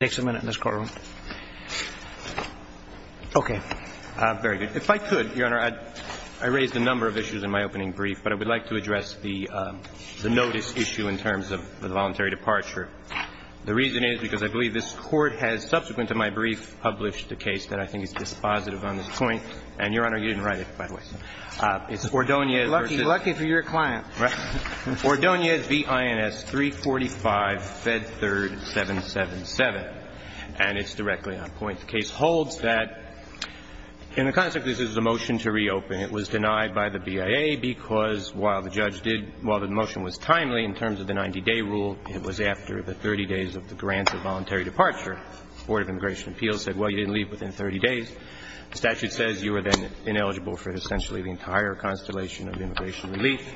takes a minute in this courtroom okay very good if i could your honor i raised a number of issues in my opening brief but i would like to address the um the notice issue in terms of the voluntary departure the reason is because i believe this court has subsequent to my brief published the case that i think is dispositive on this point and your honor you didn't write it by the way it's ordonia lucky lucky for your client right ordonia vins 345 fed third 777 and it's directly on point the case holds that in the context this is a motion to reopen it was denied by the bia because while the judge did while the motion was timely in terms of the 90-day rule it was after the 30 days of the grants of voluntary departure board of immigration appeals said well you didn't within 30 days the statute says you are then ineligible for essentially the entire constellation of immigration relief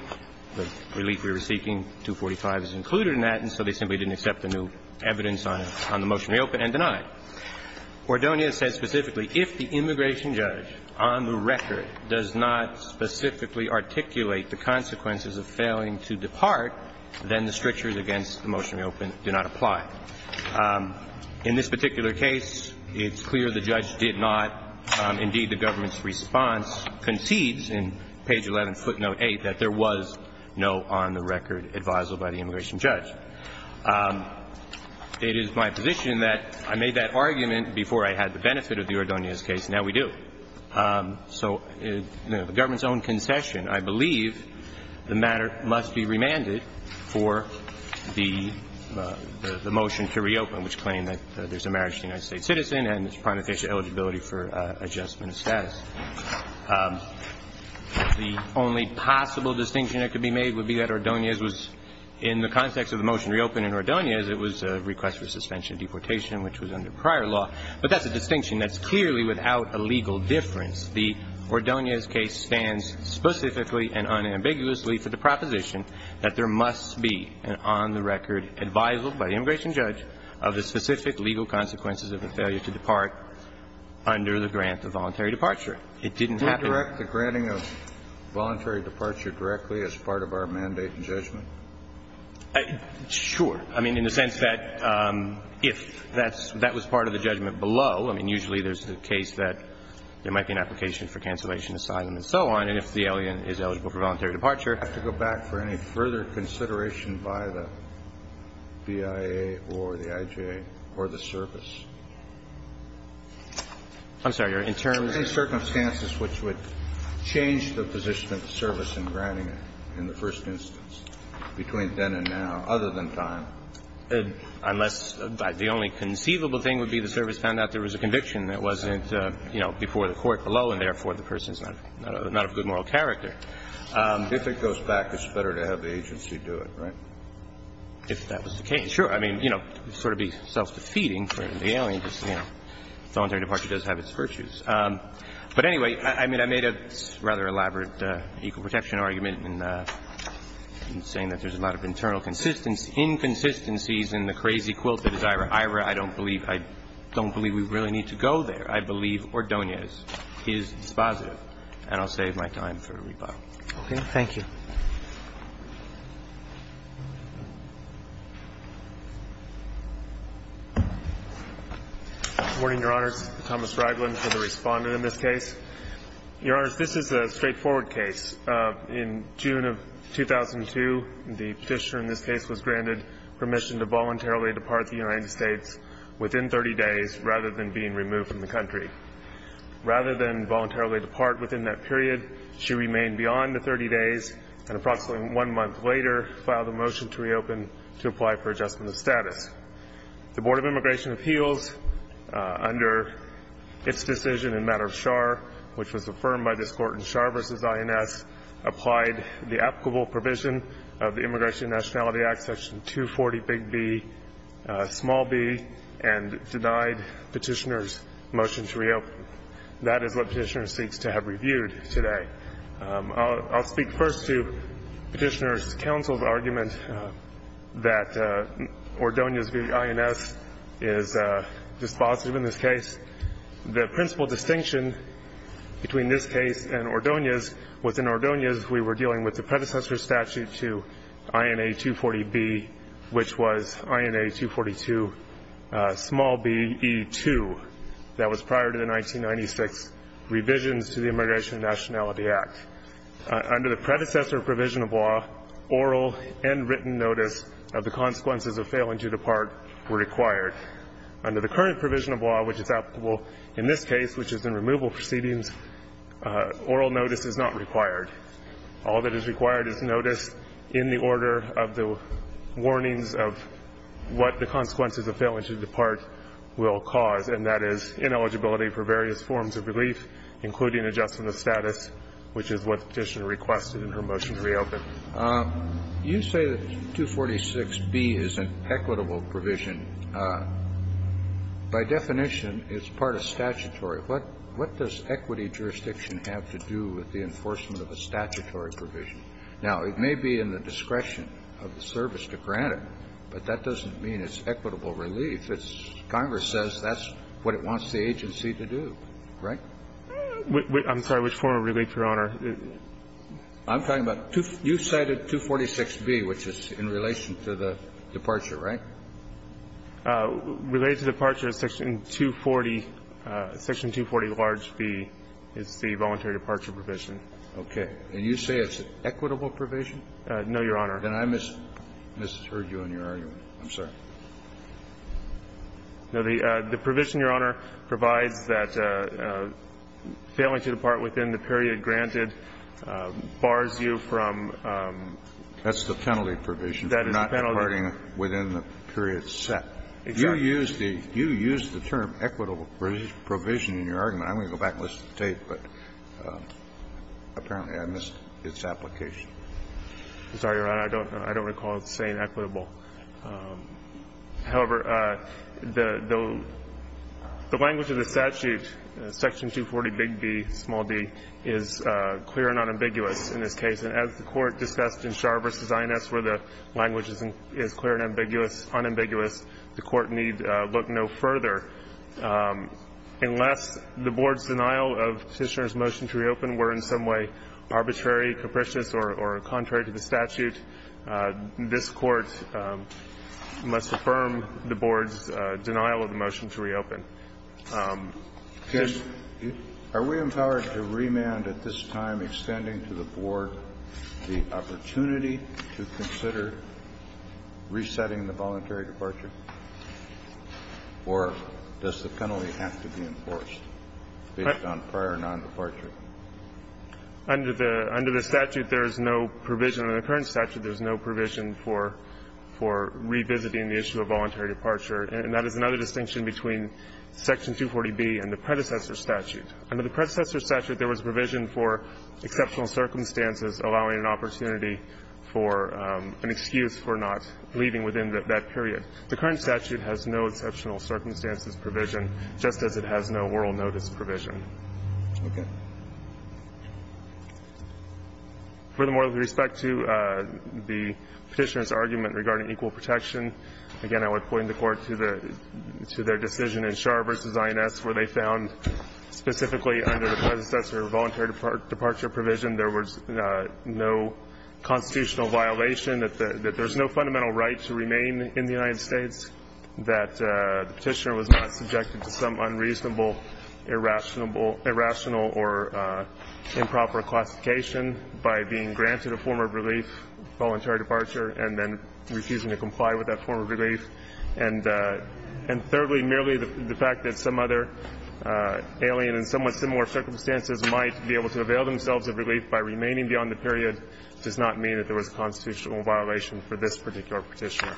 the relief we were seeking 245 is included in that and so they simply didn't accept the new evidence on on the motion reopen and denied ordonia says specifically if the immigration judge on the record does not specifically articulate the consequences of failing to depart then the strictures against the motion reopen do not apply um in this particular case it's clear the judge did not indeed the government's response concedes in page 11 footnote 8 that there was no on the record advisor by the immigration judge it is my position that i made that argument before i had the benefit of the ordonia's case now we do so the government's own concession i believe the matter must be remanded for the the motion to reopen which claimed that there's a marriage to the united states citizen and it's prime official eligibility for uh adjustment of status the only possible distinction that could be made would be that ordonia's was in the context of the motion reopen in ordonia's it was a request for suspension of deportation which was under prior law but that's a distinction that's clearly without a legal difference the ordonia's case stands specifically and unambiguously for the proposition that there advisable by the immigration judge of the specific legal consequences of the failure to depart under the grant of voluntary departure it didn't happen direct the granting of voluntary departure directly as part of our mandate and judgment sure i mean in the sense that um if that's that was part of the judgment below i mean usually there's the case that there might be an application for cancellation asylum and so on and if the alien is eligible for voluntary departure i have to go back for any further consideration by the bia or the ij or the service i'm sorry you're in terms of circumstances which would change the position of service in granting it in the first instance between then and now other than time unless the only conceivable thing would be the service found out there was a conviction that wasn't uh you know before the court below and therefore the person's not not a good moral um if it goes back it's better to have the agency do it right if that was the case sure i mean you know sort of be self-defeating for the alien just you know voluntary departure does have its virtues um but anyway i mean i made a rather elaborate uh equal protection argument and uh i'm saying that there's a lot of internal consistency inconsistencies in the crazy quilt that is ira ira i don't believe i don't believe we really need to go there i believe ordonia's is dispositive and i'll save my time for a rebuttal okay thank you morning your honors thomas raglan for the respondent in this case your honors this is a straightforward case uh in june of 2002 the petitioner in this case was granted permission to voluntarily depart the united states within 30 days rather than being she remained beyond the 30 days and approximately one month later filed a motion to reopen to apply for adjustment of status the board of immigration appeals under its decision in matter of char which was affirmed by this court in char versus ins applied the applicable provision of the immigration nationality act section 240 big b small b and denied petitioner's motion to reopen that is what petitioner seeks to have reviewed today i'll speak first to petitioner's council's argument that uh ordonia's vins is uh dispositive in this case the principal distinction between this case and ordonia's within ordonia's we were dealing with the predecessor statute to revisions to the immigration nationality act under the predecessor provision of law oral and written notice of the consequences of failing to depart were required under the current provision of law which is applicable in this case which is in removal proceedings oral notice is not required all that is required is noticed in the order of the warnings of what the consequences of failing to depart will cause and that is ineligibility for various forms of relief including adjustment of status which is what petitioner requested in her motion to reopen you say that 246 b is an equitable provision by definition it's part of statutory what what does equity jurisdiction have to do with the enforcement of a statutory provision now it may be in the discretion of the service to grant it but that doesn't mean it's equitable relief it's congress says that's what it wants the agency to do right i'm sorry which form of relief your honor i'm talking about two you cited 246 b which is in relation to the departure right uh related to departure section 240 uh section 240 large b is the voluntary departure provision okay and you say it's an equitable provision uh no your honor and i missed this has heard you in your argument i'm sorry no the uh the provision your honor provides that uh failing to depart within the period granted bars you from um that's the penalty provision that is not departing within the period set you use the you use the term equitable provision in your argument i'm going to go back and listen but apparently i missed its application i'm sorry your honor i don't know i don't recall saying equitable um however uh the the the language of the statute section 240 big b small d is uh clear and unambiguous in this case and as the court discussed in char versus ins where the language isn't is clear and ambiguous unambiguous the court need uh look no further um unless the board's denial of petitioner's motion to reopen were in some way arbitrary capricious or or contrary to the statute uh this court must affirm the board's uh denial of the motion to reopen um are we empowered to remand at this time extending to the board the opportunity to consider resetting the voluntary departure or does the penalty have to be enforced based on prior non-departure under the under the statute there is no provision in the current statute there's no provision for for revisiting the issue of voluntary departure and that is another distinction between section 240 b and the predecessor statute under the predecessor statute there was provision for leaving within that period the current statute has no exceptional circumstances provision just as it has no oral notice provision okay furthermore with respect to uh the petitioner's argument regarding equal protection again i would point the court to the to their decision in char versus ins where they found specifically under the predecessor voluntary departure provision there was no constitutional violation that there's no fundamental right to remain in the united states that the petitioner was not subjected to some unreasonable irrational or improper classification by being granted a form of relief voluntary departure and then refusing to comply with that form of relief and uh and thirdly merely the fact that some other uh alien and somewhat similar circumstances might be able to avail themselves of relief by remaining beyond the period does not mean that there was a constitutional violation for this particular petitioner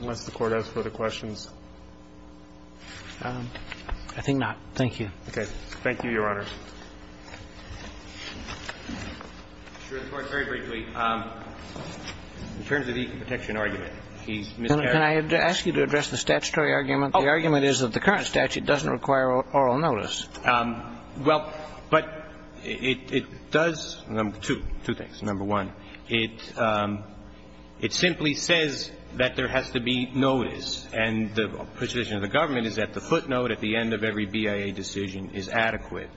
unless the court has further questions um i think not thank you okay thank you your honor sure the court very briefly um in terms of the protection argument he's can i ask you to address the statutory argument the argument is that the current statute doesn't require oral notice um well but it it does number two two things number one it um it simply says that there has to be notice and the position of the government is that the footnote at the end of every bia decision is adequate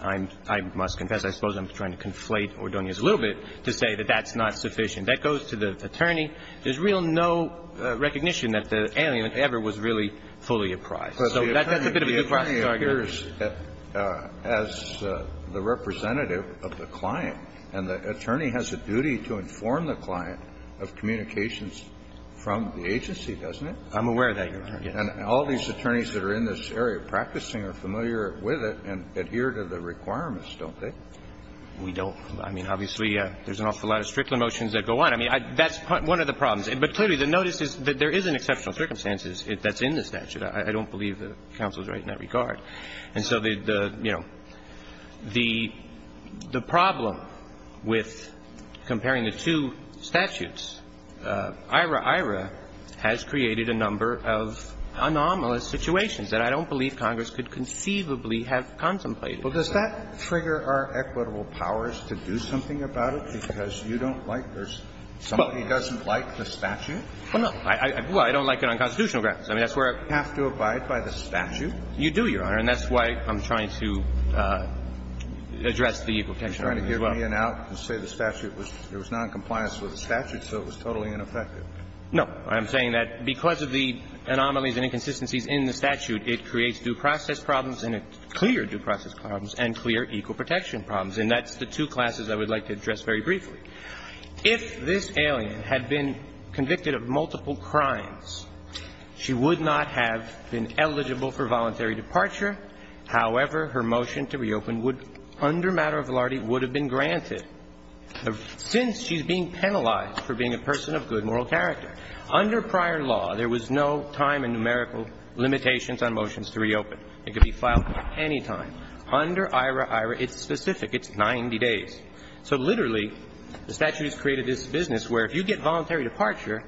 i'm i must confess i suppose i'm trying to conflate or don't use a little bit to say that that's not sufficient that goes to the attorney there's real no uh recognition that the alien ever was really fully apprised so that's a bit of a classic argument as the representative of the client and the attorney has a duty to inform the client of communications from the agency doesn't it i'm aware of that your honor and all these attorneys that are in this area practicing are familiar with it and adhere to the requirements don't they we don't i mean obviously uh there's an awful lot of stricter motions that go on i mean that's one of the problems but clearly the notice is that there is an exceptional circumstances if that's in the statute i don't believe that counsel's right in that regard and so the the you know the the problem with comparing the two statutes uh ira ira has created a number of anomalous situations that i don't believe congress could conceivably have contemplated well does that trigger our equitable powers to do something about it because you don't like there's somebody doesn't like the statute well no i i well i don't like it on constitutional grounds i mean that's where i have to abide by the statute you do your honor and that's why i'm trying to uh address the equal protection trying to get me in out and say the statute was there was non-compliance with the statute so it was totally ineffective no i'm saying that because of the anomalies and inconsistencies in the statute it creates due process problems and it's clear due process problems and clear equal protection problems and that's the two classes i would like to address very briefly if this alien had been convicted of multiple crimes she would not have been eligible for voluntary departure however her motion to reopen would under matter of lardy would have been granted since she's being penalized for being a person of good moral character under prior law there was no time and numerical limitations on motions to reopen it could be filed at any time under ira ira it's specific it's 90 days so literally the statute has created this business where if you get voluntary departure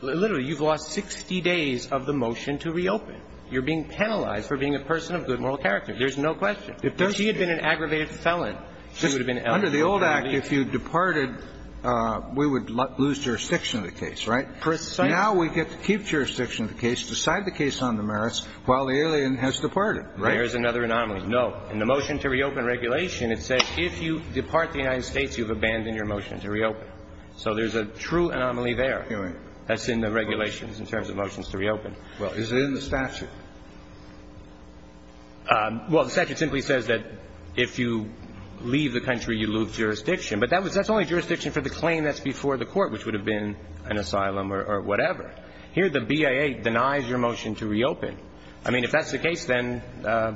literally you've lost 60 days of the motion to reopen you're being penalized for being a person of good moral character there's no question if she had been an aggravated felon she would have been under the old act if you departed we would lose jurisdiction of the case right now we get to keep jurisdiction of the case decide the case on the merits while the alien has departed right there's another anomaly no and the motion to reopen regulation it says if you depart the united states you've abandoned your motion to reopen so there's a true anomaly there hearing that's in the regulations in terms of motions to reopen well is it in the statute well the statute simply says that if you leave the country you lose jurisdiction but that was that's only jurisdiction for the claim that's before the court which would have been an asylum or whatever here the bia denies your motion to reopen i mean if that's the case then uh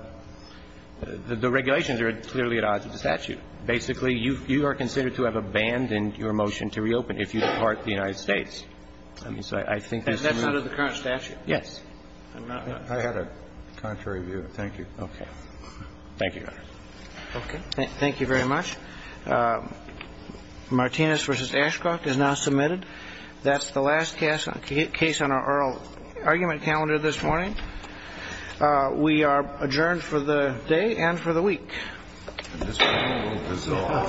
the regulations are clearly at odds with the statute basically you you are considered to have abandoned your motion to reopen if you depart the united states i mean so i think that's out of the current statute yes i had a contrary view thank you okay thank you okay thank you very much uh martinez versus ashcroft is now submitted that's the last case on case on our oral argument calendar this morning uh we are adjourned for the day and for the week so hello